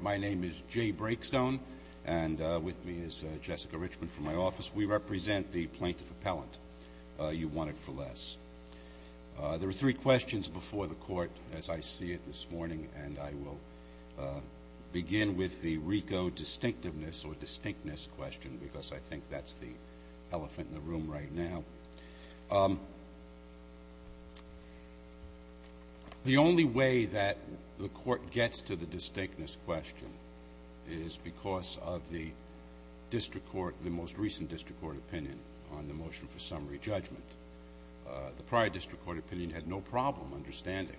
My name is Jay Breakstone, and with me is Jessica Richman from my office. We represent the plaintiff appellant, U1IT4less. There are three questions before the court, as I see it this morning, and I will begin with the RICO distinctiveness or distinctness question, because I think that's the elephant in the room right now. The only way that the court gets to the distinctness question is because of the district court – the most recent district court opinion on the motion for summary judgment. The prior district court opinion had no problem understanding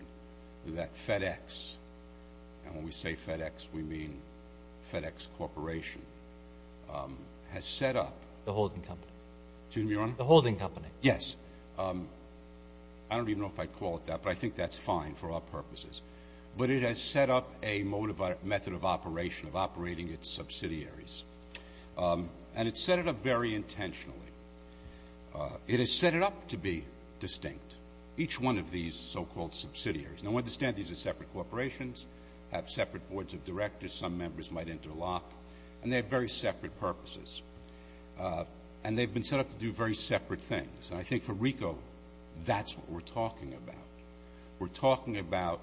that FedEx – and when we say FedEx, we mean FedEx Corporation – has set up The holding company. Excuse me, Your Honor? The holding company. Yes. I don't even know if I'd call it that, but I think that's fine for our purposes. But it has set up a method of operation of operating its subsidiaries, and it's set it up very intentionally. It has set it up to be distinct, each one of these so-called subsidiaries. Now, understand these are separate corporations, have separate boards of directors some members might interlock, and they have very separate purposes. And they've been set up to do very separate things. And I think for RICO, that's what we're talking about. We're talking about,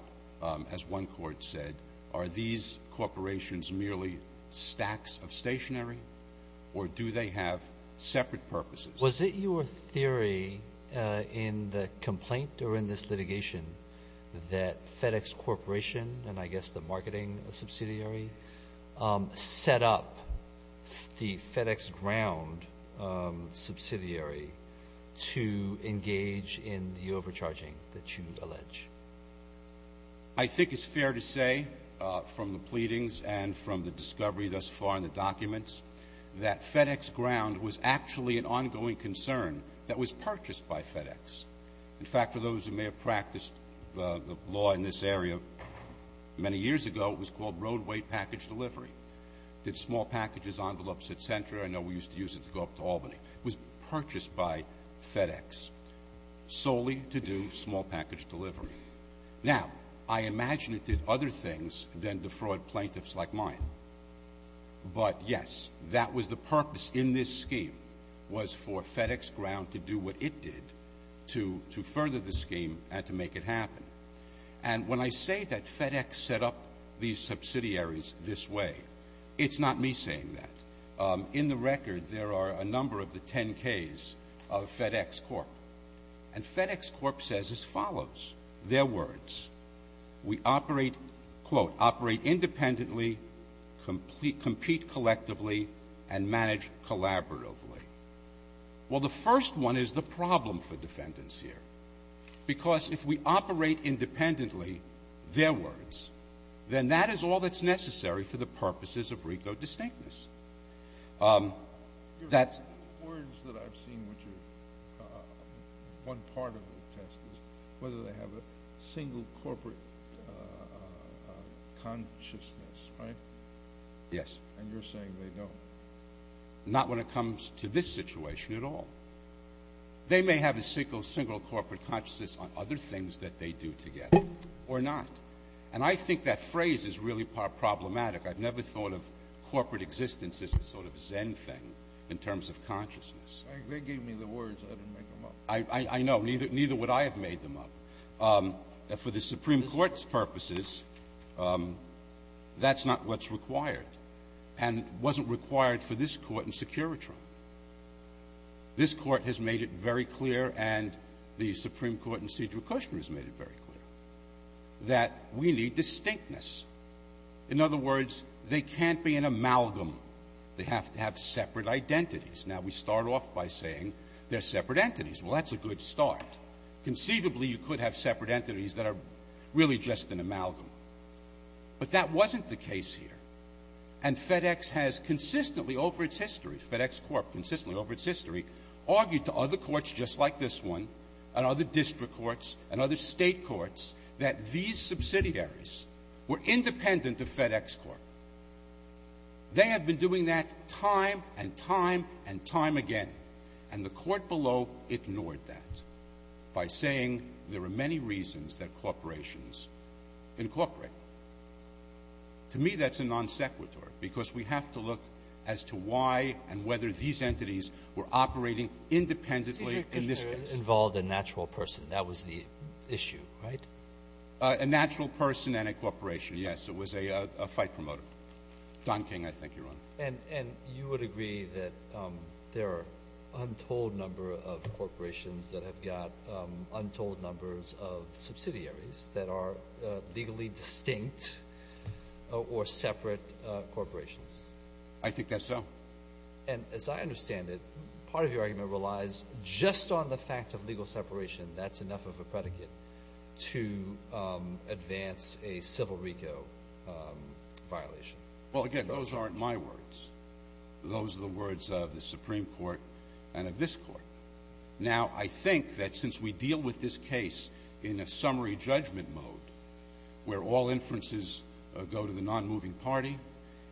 as one court said, are these corporations merely stacks of stationery, or do they have separate purposes? Was it your theory in the complaint or in this litigation that FedEx Corporation and I guess the marketing subsidiary set up the FedEx Ground subsidiary to engage in the overcharging that you allege? I think it's fair to say from the pleadings and from the discovery thus far in the documents that FedEx Ground was actually an ongoing concern that was purchased by FedEx. In fact, for those who may have practiced law in this area many years ago, it was called roadway package delivery. Did small packages, envelopes, et cetera. I know we used to use it to go up to Albany. It was purchased by FedEx solely to do small package delivery. Now, I imagine it did other things than defraud plaintiffs like mine, but yes, that was the to further the scheme and to make it happen. And when I say that FedEx set up these subsidiaries this way, it's not me saying that. In the record, there are a number of the 10Ks of FedEx Corp. And FedEx Corp says as follows, their words, we operate, quote, operate independently, compete collectively, and manage collaboratively. Well, the first one is the problem for defendants here. Because if we operate independently their words, then that is all that's necessary for the purposes of RICO distinctness. That's one part of the test is whether they have a single corporate consciousness, right? Yes. And you're saying they don't. Not when it comes to this situation at all. They may have a single corporate consciousness on other things that they do together or not. And I think that phrase is really problematic. I've never thought of corporate existence as a sort of Zen thing in terms of consciousness. They gave me the words. I didn't make them up. I know. Neither would I have made them up. For the Supreme Court's purposes, that's not what's required. And wasn't required for this Court in Securitron. This Court has made it very clear, and the Supreme Court in Cedric Kushner has made it very clear, that we need distinctness. In other words, they can't be an amalgam. They have to have separate identities. Now, we start off by saying they're separate entities. Well, that's a good start. Conceivably, you could have separate entities that are really just an amalgam. But that wasn't the case here. And FedEx has consistently over its history, FedEx Corp consistently over its history, argued to other courts just like this one and other district courts and other state courts that these subsidiaries were independent of FedEx Corp. They have been doing that time and time and time again. And the court below ignored that by saying there are many reasons that corporations incorporate. To me, that's a non sequitur, because we have to look as to why and whether these entities were operating independently in this case. Cedric Kushner involved a natural person. That was the issue, right? A natural person and a corporation, yes. It was a fight promoter. Don King, I think you're on. And you would agree that there are untold number of corporations that have got untold numbers of subsidiaries that are legally distinct or separate corporations? I think that's so. And as I understand it, part of your argument relies just on the fact of legal separation. That's enough of a predicate to advance a civil RICO violation. Well, again, those aren't my words. Those are the words of the Supreme Court and of this Court. Now, I think that since we deal with this case in a summary judgment mode where all inferences go to the non-moving party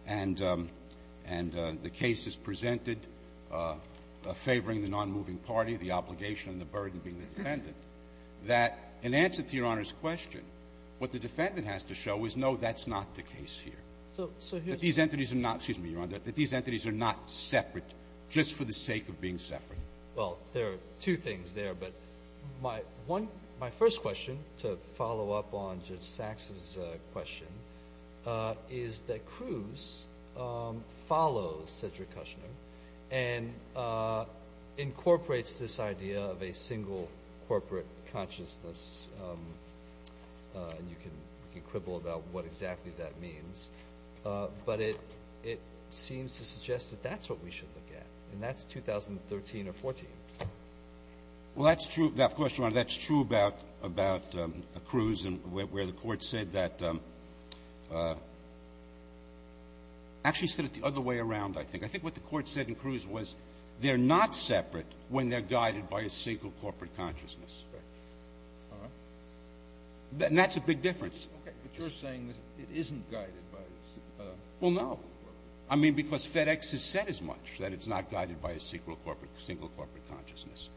and the case is presented favoring the non-moving party, the obligation and the burden being the defendant, that in answer to Your Honor's question, what the defendant has to show is, no, that's not the case here. That these entities are not, excuse me, Your Honor, that these entities are not separate just for the sake of being separate. Well, there are two things there. But my first question to follow up on Judge Saxe's question is that Cruz follows Cedric Kushner and incorporates this idea of a single corporate consciousness. And you can quibble about what exactly that means. But it seems to suggest that that's what we should look at. And that's 2013 or 14. Well, that's true. Of course, Your Honor, that's true about Cruz and where the Court said that — actually said it the other way around, I think. I think what the Court said in Cruz was they're not separate when they're guided by a single corporate consciousness. All right. And that's a big difference. Okay. But you're saying that it isn't guided by a single corporate consciousness. Well, no. I mean, because FedEx has said as much, that it's not guided by a single corporate consciousness.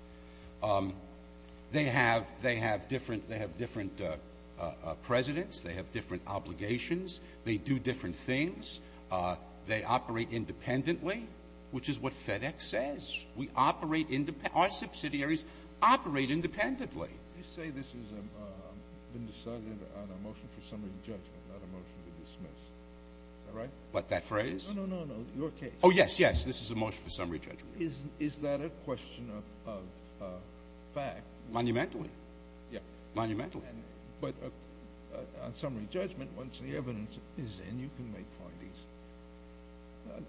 They have different presidents. They have different obligations. They do different things. They operate independently, which is what FedEx says. We operate — our subsidiaries operate independently. You say this has been decided on a motion for summary judgment, not a motion to dismiss. Is that right? What, that phrase? No, no, no, no. Your case. Oh, yes, yes. This is a motion for summary judgment. Is that a question of fact? Monumentally. Yeah. Monumentally. But on summary judgment, once the evidence is in, you can make findings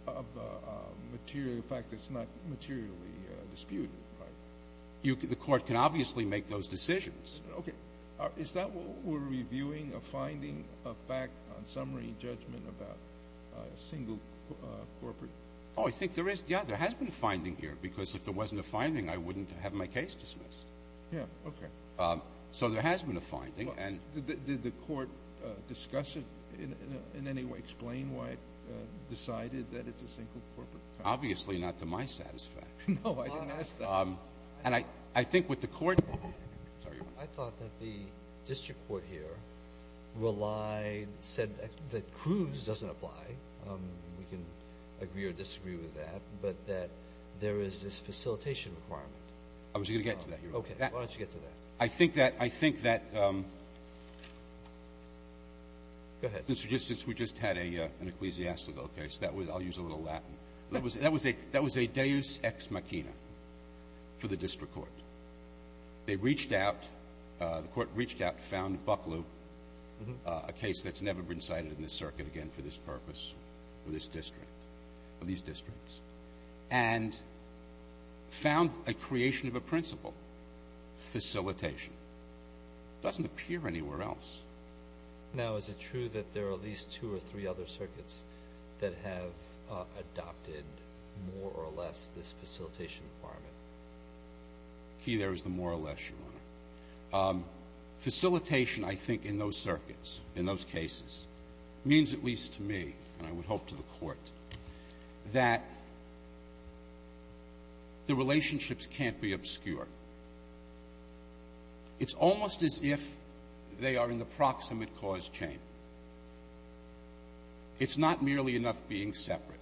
of a fact that's not materially disputed, right? The Court can obviously make those decisions. Okay. Is that what we're reviewing, a finding of fact on summary judgment about a single corporate — Oh, I think there is. Yeah, there has been a finding here, because if there wasn't a finding, I wouldn't have my case dismissed. Yeah, okay. So there has been a finding, and — Did the Court discuss it in any way, explain why it decided that it's a single corporate company? Obviously not to my satisfaction. No, I didn't ask that. And I think what the Court — I thought that the district court here relied — said that Cruz doesn't apply. We can agree or disagree with that. But that there is this facilitation requirement. I was going to get to that. Okay. Why don't you get to that? I think that — I think that — Go ahead. Mr. Justice, we just had an ecclesiastical case. That was — I'll use a little Latin. That was a — that was a deus ex machina for the district court. They reached out — the Court reached out, found Bucklew, a case that's never been cited in this circuit again for this purpose, for this district, for these districts, and found a creation of a principle. Facilitation. It doesn't appear anywhere else. Now, is it true that there are at least two or three other circuits that have adopted, more or less, this facilitation requirement? Facilitation, I think, in those circuits, in those cases, means at least to me, and I would hope to the Court, that the relationships can't be obscure. It's almost as if they are in the proximate cause chain. It's not merely enough being separate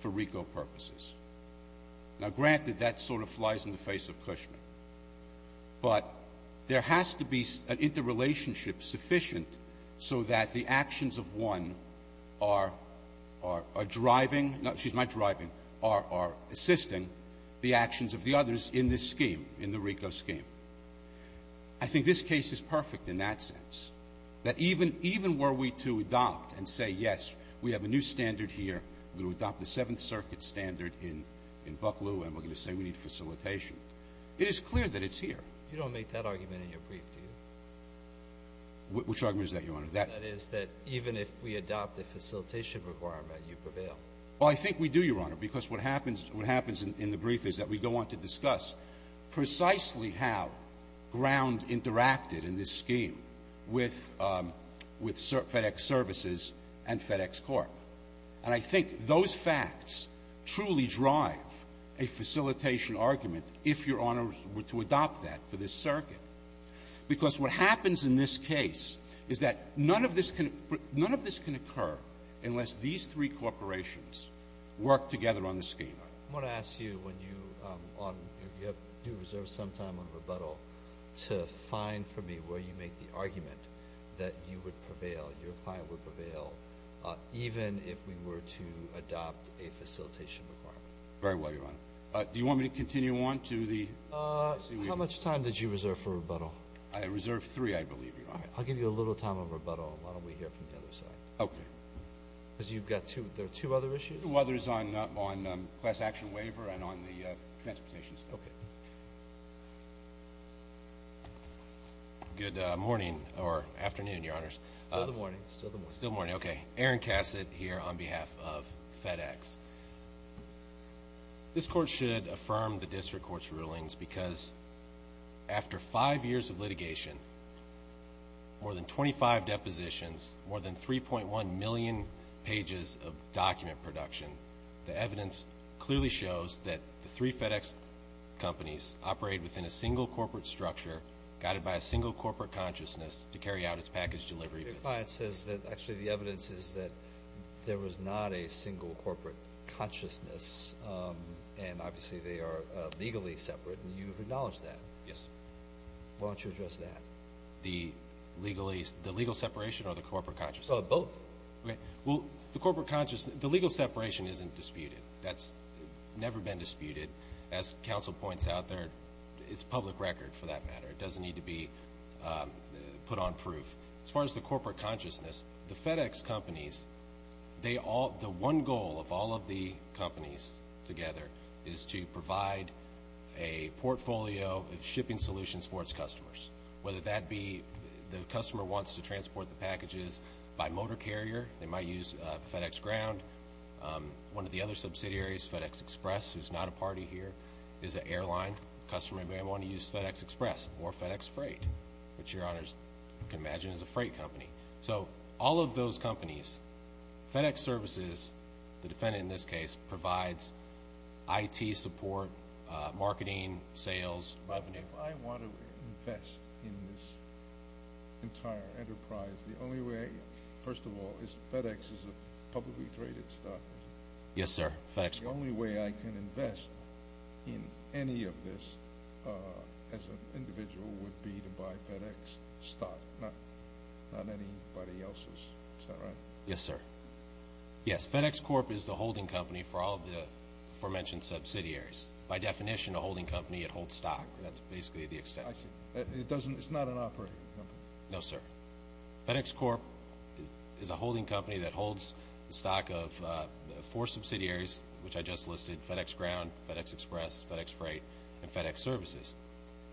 for RICO purposes. Now, granted, that sort of flies in the face of Cushman. But there has to be an interrelationship sufficient so that the actions of one are driving — excuse my driving — are assisting the actions of the others in this scheme, in the RICO scheme. I think this case is perfect in that sense, that even were we to adopt and say, yes, we have a new standard here, we're going to adopt the Seventh Circuit standard in Bucklew, and we're going to say we need facilitation, it is clear that it's here. You don't make that argument in your brief, do you? Which argument is that, Your Honor? That is that even if we adopt the facilitation requirement, you prevail. Well, I think we do, Your Honor, because what happens in the brief is that we go on to discuss precisely how ground interacted in this scheme with — with FedEx Services and FedEx Corp. And I think those facts truly drive a facilitation argument, if Your Honor were to adopt that, for this circuit. Because what happens in this case is that none of this can — none of this can occur unless these three corporations work together on the scheme. I want to ask you, when you — if you have due reserve some time on rebuttal, to find for me where you make the argument that you would prevail, your client would prevail, even if we were to adopt a facilitation requirement. Very well, Your Honor. Do you want me to continue on to the — How much time did you reserve for rebuttal? I reserved three, I believe, Your Honor. I'll give you a little time on rebuttal, and why don't we hear from the other side. Okay. Because you've got two — there are two other issues? There are two others on class action waiver and on the transportation stuff. Okay. Good morning — or afternoon, Your Honors. Still the morning. Still the morning. Still the morning. Okay. Aaron Cassett here on behalf of FedEx. This Court should affirm the district court's rulings because after five years of litigation, more than 25 depositions, more than 3.1 million pages of document production, the evidence clearly shows that the three FedEx companies operate within a single corporate structure guided by a single corporate consciousness to carry out its package delivery. Your client says that actually the evidence is that there was not a single corporate consciousness, and obviously they are legally separate, and you've acknowledged that. Yes. Why don't you address that? The legal separation or the corporate consciousness? Both. Okay. Well, the corporate consciousness — the legal separation isn't disputed. That's never been disputed. As counsel points out, it's public record for that matter. It doesn't need to be put on proof. As far as the corporate consciousness, the FedEx companies, the one goal of all of the companies together is to provide a portfolio of shipping solutions for its customers. Whether that be the customer wants to transport the packages by motor carrier, they might use FedEx Ground. One of the other subsidiaries, FedEx Express, who's not a party here, is an airline customer. They may want to use FedEx Express or FedEx Freight, which Your Honors can imagine is a freight company. So all of those companies, FedEx Services, the defendant in this case, provides IT support, marketing, sales, revenue. If I want to invest in this entire enterprise, the only way, first of all, is FedEx is a publicly traded stock, isn't it? Yes, sir. The only way I can invest in any of this as an individual would be to buy FedEx stock, not anybody else's. Is that right? Yes, sir. Yes, FedEx Corp. is the holding company for all of the aforementioned subsidiaries. By definition, a holding company, it holds stock. That's basically the exception. It's not an operating company? No, sir. FedEx Corp. is a holding company that holds the stock of four subsidiaries, which I just listed, FedEx Ground, FedEx Express, FedEx Freight, and FedEx Services.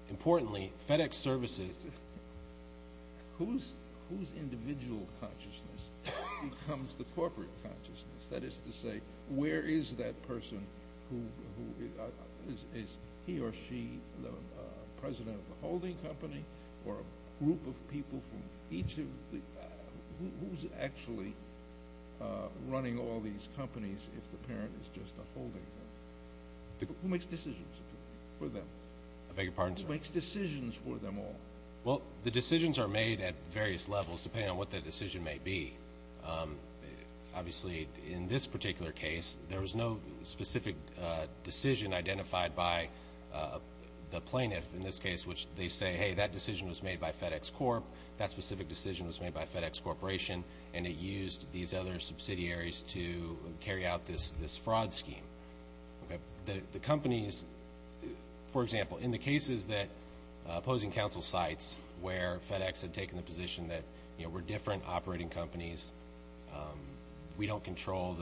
Importantly, FedEx Services... Whose individual consciousness becomes the corporate consciousness? That is to say, where is that person who is he or she the president of the holding company or a group of people from each of the... Who's actually running all these companies if the parent is just a holding company? Who makes decisions for them? I beg your pardon, sir? Who makes decisions for them all? Well, the decisions are made at various levels, depending on what the decision may be. Obviously, in this particular case, there was no specific decision identified by the plaintiff, in this case, which they say, hey, that decision was made by FedEx Corp., that specific decision was made by FedEx Corporation, and it used these other subsidiaries to carry out this fraud scheme. The companies... For example, in the cases that opposing counsel cites, where FedEx had taken the position that, you know, we're different operating companies, we don't control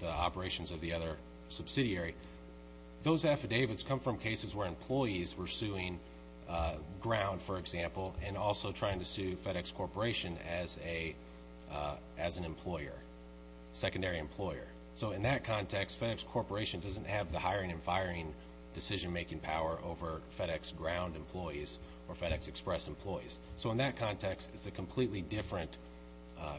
the operations of the other subsidiary, those affidavits come from cases where employees were suing ground, for example, and also trying to sue FedEx Corporation as an employer, secondary employer. So in that context, FedEx Corporation doesn't have the hiring and firing decision-making power over FedEx ground employees or FedEx Express employees. So in that context, it's a completely different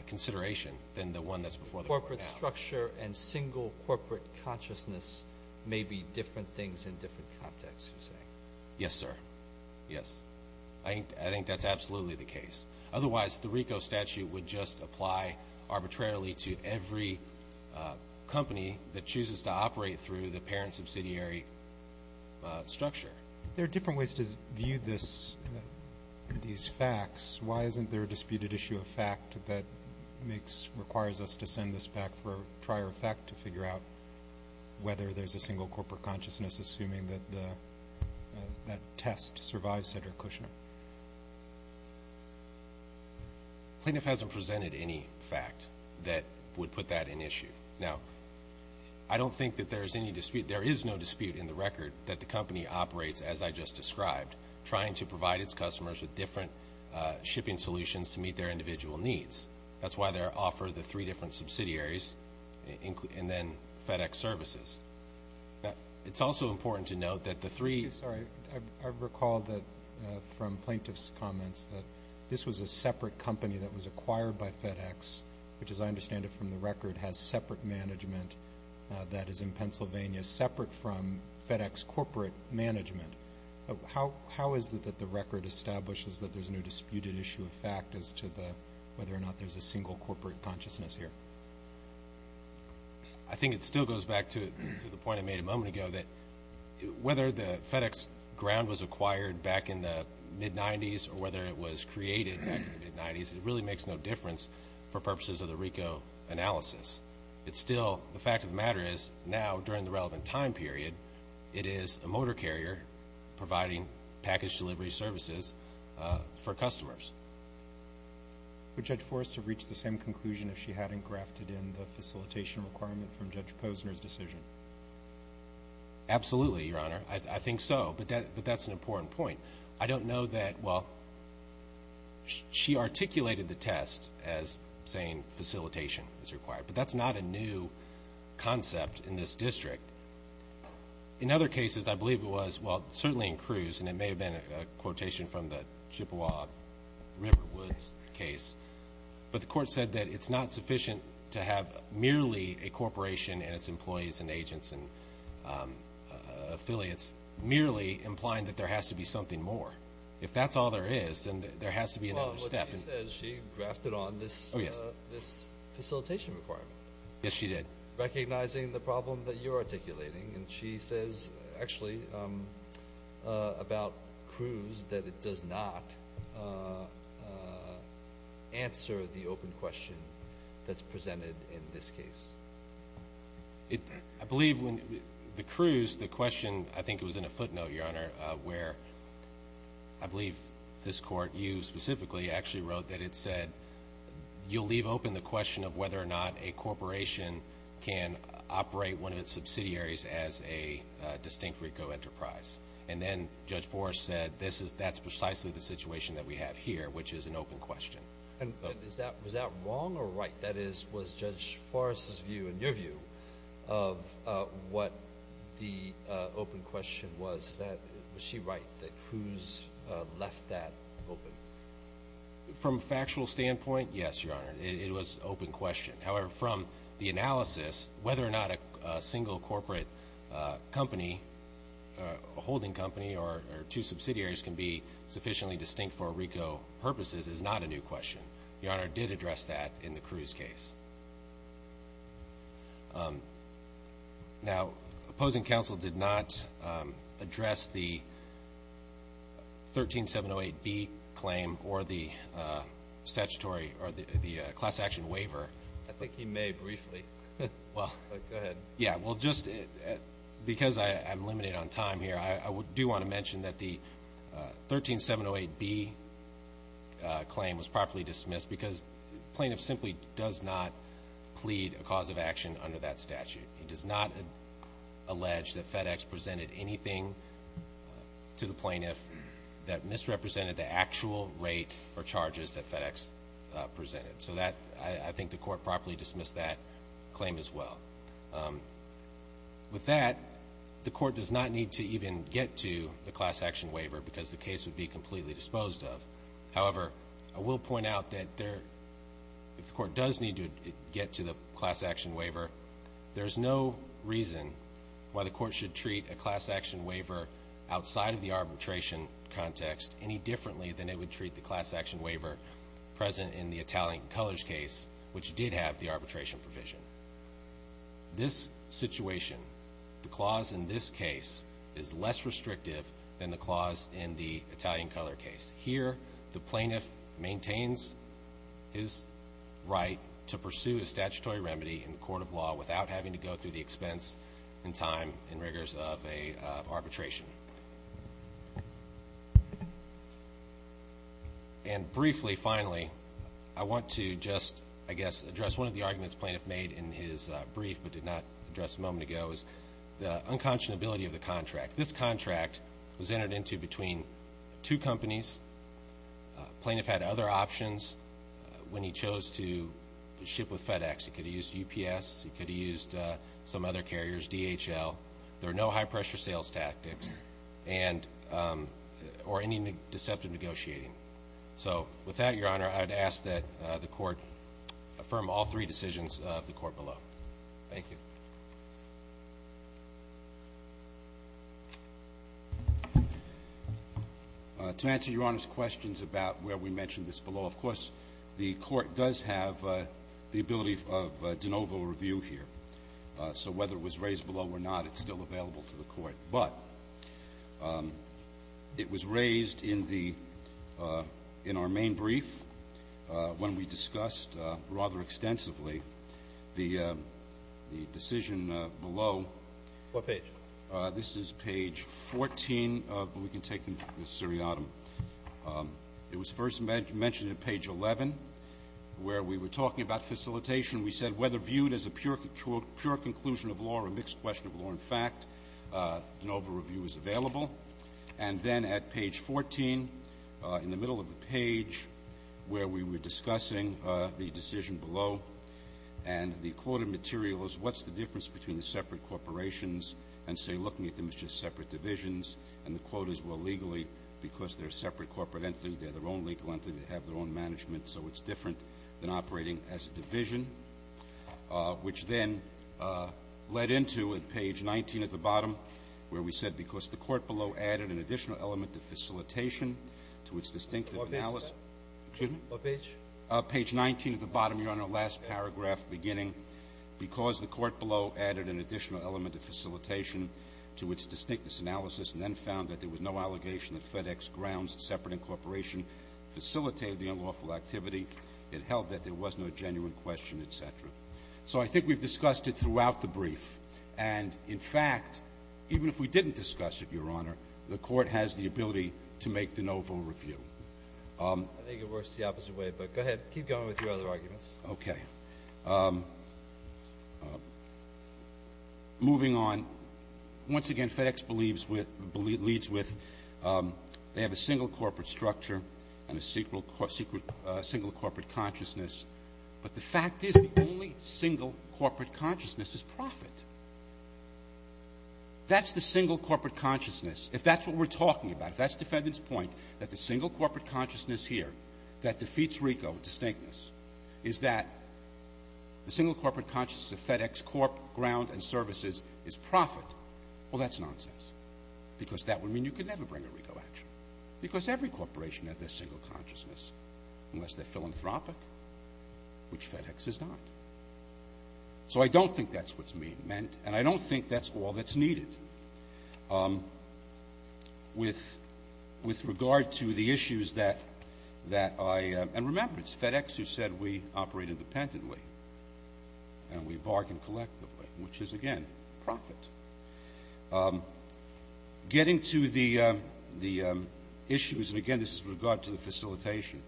consideration than the one that's before the court. Corporate structure and single corporate consciousness may be different things in different contexts, you say? Yes, sir. Yes. I think that's absolutely the case. Otherwise, the RICO statute would just apply arbitrarily to every company that chooses to operate through the parent subsidiary structure. There are different ways to view these facts. Why isn't there a disputed issue of fact that requires us to send this back for prior effect to figure out whether there's a single corporate consciousness, assuming that that test survives Cedric Kushner? The plaintiff hasn't presented any fact that would put that in issue. Now, I don't think that there is any dispute. There is no dispute in the record that the company operates, as I just described, trying to provide its customers with different shipping solutions to meet their individual needs. That's why they offer the three different subsidiaries and then FedEx services. It's also important to note that the three ---- the plaintiff's comments that this was a separate company that was acquired by FedEx, which, as I understand it from the record, has separate management that is in Pennsylvania, separate from FedEx corporate management. How is it that the record establishes that there's no disputed issue of fact as to whether or not there's a single corporate consciousness here? I think it still goes back to the point I made a moment ago, that whether the FedEx ground was acquired back in the mid-'90s or whether it was created back in the mid-'90s, it really makes no difference for purposes of the RICO analysis. It's still ---- the fact of the matter is, now, during the relevant time period, it is a motor carrier providing package delivery services for customers. Would Judge Forrest have reached the same conclusion if she hadn't grafted in the facilitation requirement from Judge Posner's decision? Absolutely, Your Honor. I think so, but that's an important point. I don't know that, well, she articulated the test as saying facilitation is required, but that's not a new concept in this district. In other cases, I believe it was, well, certainly in Cruz, and it may have been a quotation from the Chippewa River Woods case, but the court said that it's not sufficient to have merely a corporation and its employees and agents and affiliates merely implying that there has to be something more. If that's all there is, then there has to be another step. Well, what she says, she grafted on this facilitation requirement. Yes, she did. Recognizing the problem that you're articulating, and she says actually about Cruz that it does not answer the open question that's presented in this case. I believe when the Cruz, the question, I think it was in a footnote, Your Honor, where I believe this court, you specifically, actually wrote that it said, you'll leave open the question of whether or not a corporation can operate one of its subsidiaries as a distinct RICO enterprise. And then Judge Forrest said that's precisely the situation that we have here, which is an open question. Was that wrong or right? That is, was Judge Forrest's view and your view of what the open question was, was she right that Cruz left that open? From a factual standpoint, yes, Your Honor, it was open question. However, from the analysis, whether or not a single corporate company, a holding company or two subsidiaries can be sufficiently distinct for RICO purposes is not a new question. Your Honor did address that in the Cruz case. Now, opposing counsel did not address the 13708B claim or the statutory or the class action waiver. I think he may briefly. Go ahead. Yeah, well, just because I'm limited on time here, I do want to mention that the 13708B claim was properly dismissed because the plaintiff simply does not plead a cause of action under that statute. It does not allege that FedEx presented anything to the plaintiff that misrepresented the actual rate or charges that FedEx presented. So I think the court properly dismissed that claim as well. With that, the court does not need to even get to the class action waiver because the case would be completely disposed of. However, I will point out that if the court does need to get to the class action waiver, there is no reason why the court should treat a class action waiver outside of the arbitration context any differently than it would treat the class action waiver present in the Italian colors case, which did have the arbitration provision. This situation, the clause in this case is less restrictive than the clause in the Italian color case. Here, the plaintiff maintains his right to pursue a statutory remedy in court of law without having to go through the expense and time and rigors of arbitration. And briefly, finally, I want to just, I guess, address one of the arguments the plaintiff made in his brief but did not address a moment ago is the unconscionability of the contract. This contract was entered into between two companies. The plaintiff had other options when he chose to ship with FedEx. He could have used UPS. He could have used some other carriers, DHL. There are no high-pressure sales tactics or any deceptive negotiating. So with that, Your Honor, I would ask that the court affirm all three decisions of the court below. Thank you. To answer Your Honor's questions about where we mentioned this below, of course, the Court does have the ability of de novo review here. So whether it was raised below or not, it's still available to the Court. But it was raised in the – in our main brief when we discussed rather extensively the decision below. What page? This is page 14, but we can take the seriatim. It was first mentioned at page 11 where we were talking about facilitation. We said whether viewed as a pure conclusion of law or a mixed question of law in fact, de novo review is available. And then at page 14, in the middle of the page where we were discussing the decision below and the quoted materials, what's the difference between the separate corporations and, say, looking at them as just separate divisions, and the quotas were legally because they're separate corporate entity. They're their own legal entity. They have their own management. So it's different than operating as a division, which then led into at page 19 at the bottom where we said because the court below added an additional element of facilitation to its distinctive analysis. What page? Page 19 at the bottom. You're on our last paragraph beginning. Because the court below added an additional element of facilitation to its distinct analysis and then found that there was no allegation that FedEx grounds separate incorporation facilitated the unlawful activity, it held that there was no genuine question, et cetera. So I think we've discussed it throughout the brief. And, in fact, even if we didn't discuss it, Your Honor, the court has the ability to make de novo review. I think it works the opposite way. But go ahead. Keep going with your other arguments. Okay. Moving on, once again, FedEx leads with they have a single corporate structure and a single corporate consciousness. But the fact is the only single corporate consciousness is profit. That's the single corporate consciousness. If that's what we're talking about, if that's defendant's point, that the single corporate consciousness here that defeats RICO distinctness is that the single corporate consciousness of FedEx corp, ground, and services is profit, well, that's nonsense. Because that would mean you could never bring a RICO action. Because every corporation has their single consciousness, unless they're philanthropic, which FedEx is not. So I don't think that's what's meant, and I don't think that's all that's needed. With regard to the issues that I – and remember, it's FedEx who said we operate independently and we bargain collectively, which is, again, profit. Getting to the issues, and again, this is with regard to the facilitation,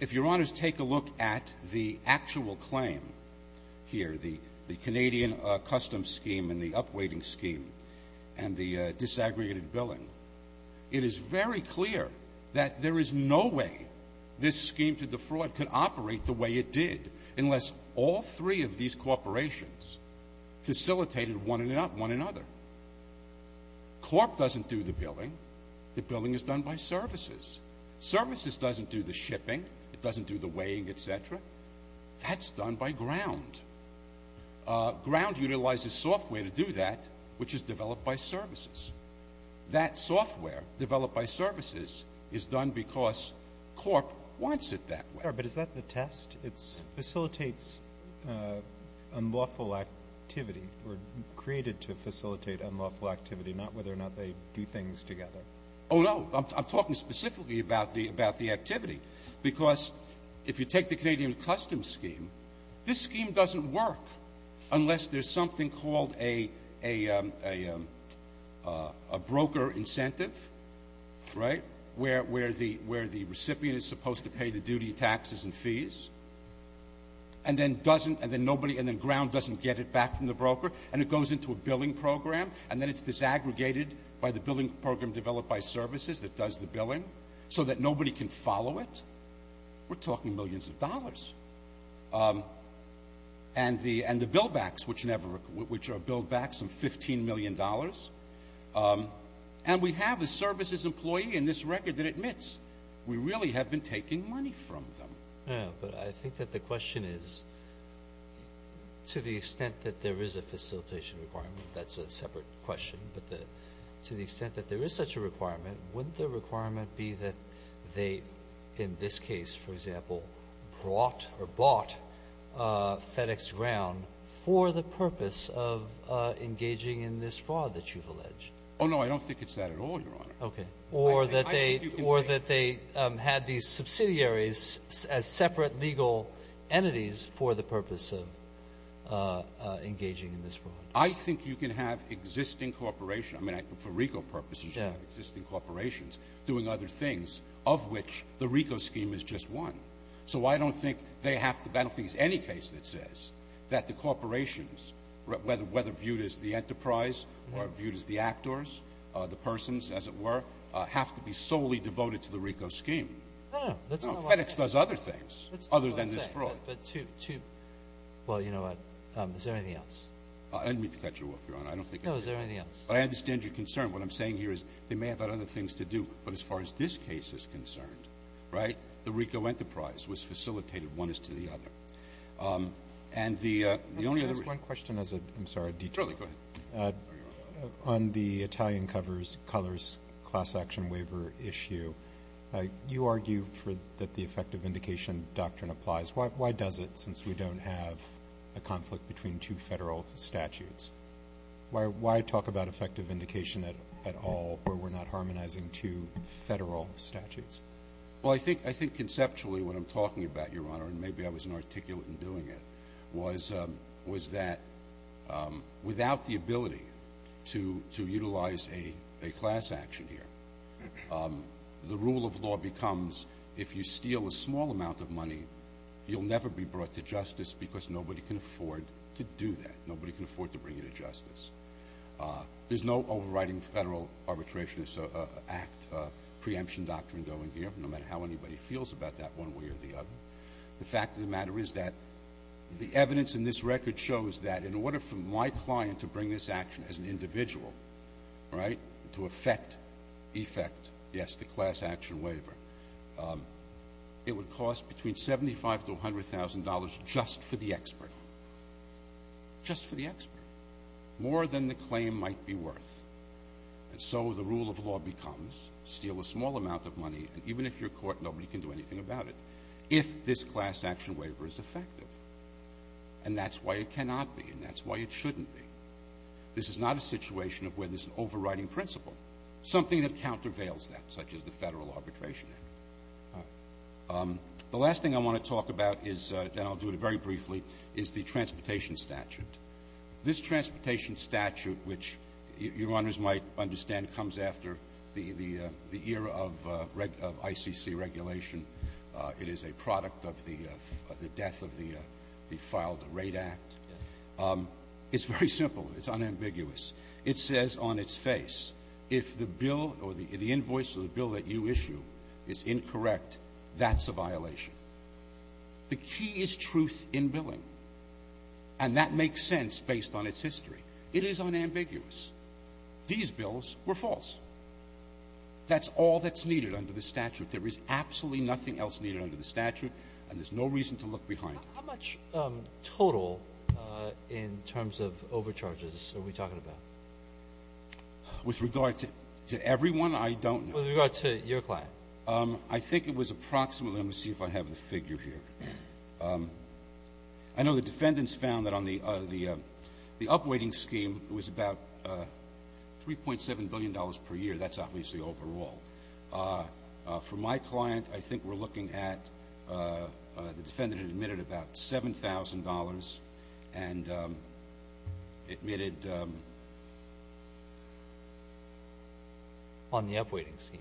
if Your Honors take a look at the actual claim here, the Canadian custom scheme and the upweighting scheme and the disaggregated billing, it is very clear that there is no way this scheme to defraud could operate the way it did unless all three of these corporations facilitated one another. Corp doesn't do the billing. The billing is done by services. Services doesn't do the shipping. It doesn't do the weighing, et cetera. That's done by ground. Ground utilizes software to do that, which is developed by services. That software developed by services is done because corp wants it that way. I'm sorry, but is that the test? It facilitates unlawful activity or created to facilitate unlawful activity, not whether or not they do things together? Oh, no. I'm talking specifically about the activity because if you take the Canadian custom scheme, this scheme doesn't work unless there's something called a broker incentive, right, where the recipient is supposed to pay the duty, taxes, and fees, and then ground doesn't get it back from the broker, and it goes into a billing program, and then it's disaggregated by the billing program developed by services that does the billing so that nobody can follow it. We're talking millions of dollars. And the billbacks, which are billbacks of $15 million. And we have a services employee in this record that admits we really have been taking money from them. But I think that the question is, to the extent that there is a facilitation requirement, that's a separate question, but to the extent that there is such a requirement, wouldn't the requirement be that they, in this case, for example, brought or bought FedEx Ground for the purpose of engaging in this fraud that you've alleged? Oh, no. I don't think it's that at all, Your Honor. Okay. Or that they had these subsidiaries as separate legal entities for the purpose of engaging in this fraud? I think you can have existing corporation. I mean, for RICO purposes, you can have existing corporations doing other things of which the RICO scheme is just one. So I don't think they have to battle things. Any case that says that the corporations, whether viewed as the enterprise or viewed as the actors, the persons, as it were, have to be solely devoted to the RICO scheme. No, no. That's not what I'm saying. No, FedEx does other things other than this fraud. That's not what I'm saying. But to – well, you know what, is there anything else? Let me cut you off, Your Honor. I don't think I can. No, is there anything else? I understand your concern. What I'm saying here is they may have other things to do. But as far as this case is concerned, right, the RICO enterprise was facilitated one is to the other. And the only other reason – Let me ask one question as a – I'm sorry, a detour. Surely. Go ahead. On the Italian covers, colors, class action waiver issue, you argue that the effective indication doctrine applies. Why does it, since we don't have a conflict between two Federal statutes? Why talk about effective indication at all where we're not harmonizing two Federal statutes? Well, I think conceptually what I'm talking about, Your Honor, and maybe I was inarticulate in doing it, was that without the ability to utilize a class action here, the rule of law becomes if you steal a small amount of money, you'll never be brought to justice because nobody can afford to do that. Nobody can afford to bring you to justice. There's no overriding Federal arbitrationist act preemption doctrine going here, no matter how anybody feels about that one way or the other. The fact of the matter is that the evidence in this record shows that in order for my client to bring this action as an individual, right, to effect – effect, yes, the class action waiver, it would cost between $75,000 to $100,000 just for the expert. Just for the expert. More than the claim might be worth. And so the rule of law becomes steal a small amount of money, and even if you're caught, nobody can do anything about it, if this class action waiver is effective. And that's why it cannot be, and that's why it shouldn't be. This is not a situation of where there's an overriding principle. Something that countervails that, such as the Federal Arbitration Act. The last thing I want to talk about is – and I'll do it very briefly – is the transportation statute. This transportation statute, which Your Honors might understand comes after the era of ICC regulation. It is a product of the death of the filed rate act. It's very simple. It's unambiguous. It says on its face, if the bill or the invoice of the bill that you issue is incorrect, that's a violation. The key is truth in billing, and that makes sense based on its history. It is unambiguous. These bills were false. That's all that's needed under the statute. There is absolutely nothing else needed under the statute, and there's no reason to look behind it. How much total in terms of overcharges are we talking about? With regard to everyone, I don't know. With regard to your client? I think it was approximately – let me see if I have the figure here. I know the defendants found that on the up-weighting scheme, it was about $3.7 billion per year. That's obviously overall. For my client, I think we're looking at the defendant admitted about $7,000 and admitted. On the up-weighting scheme?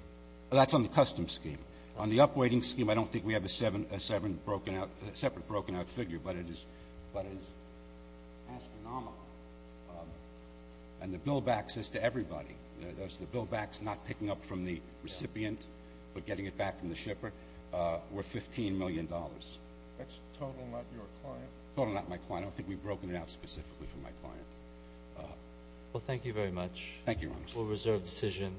That's on the custom scheme. On the up-weighting scheme, I don't think we have a separate broken-out figure, but it is astronomical. And the bill backs this to everybody. The bill backs not picking up from the recipient but getting it back from the shipper were $15 million. That's total, not your client? Total, not my client. I don't think we've broken it out specifically for my client. Well, thank you very much. Thank you, Your Honor. We'll reserve the decision.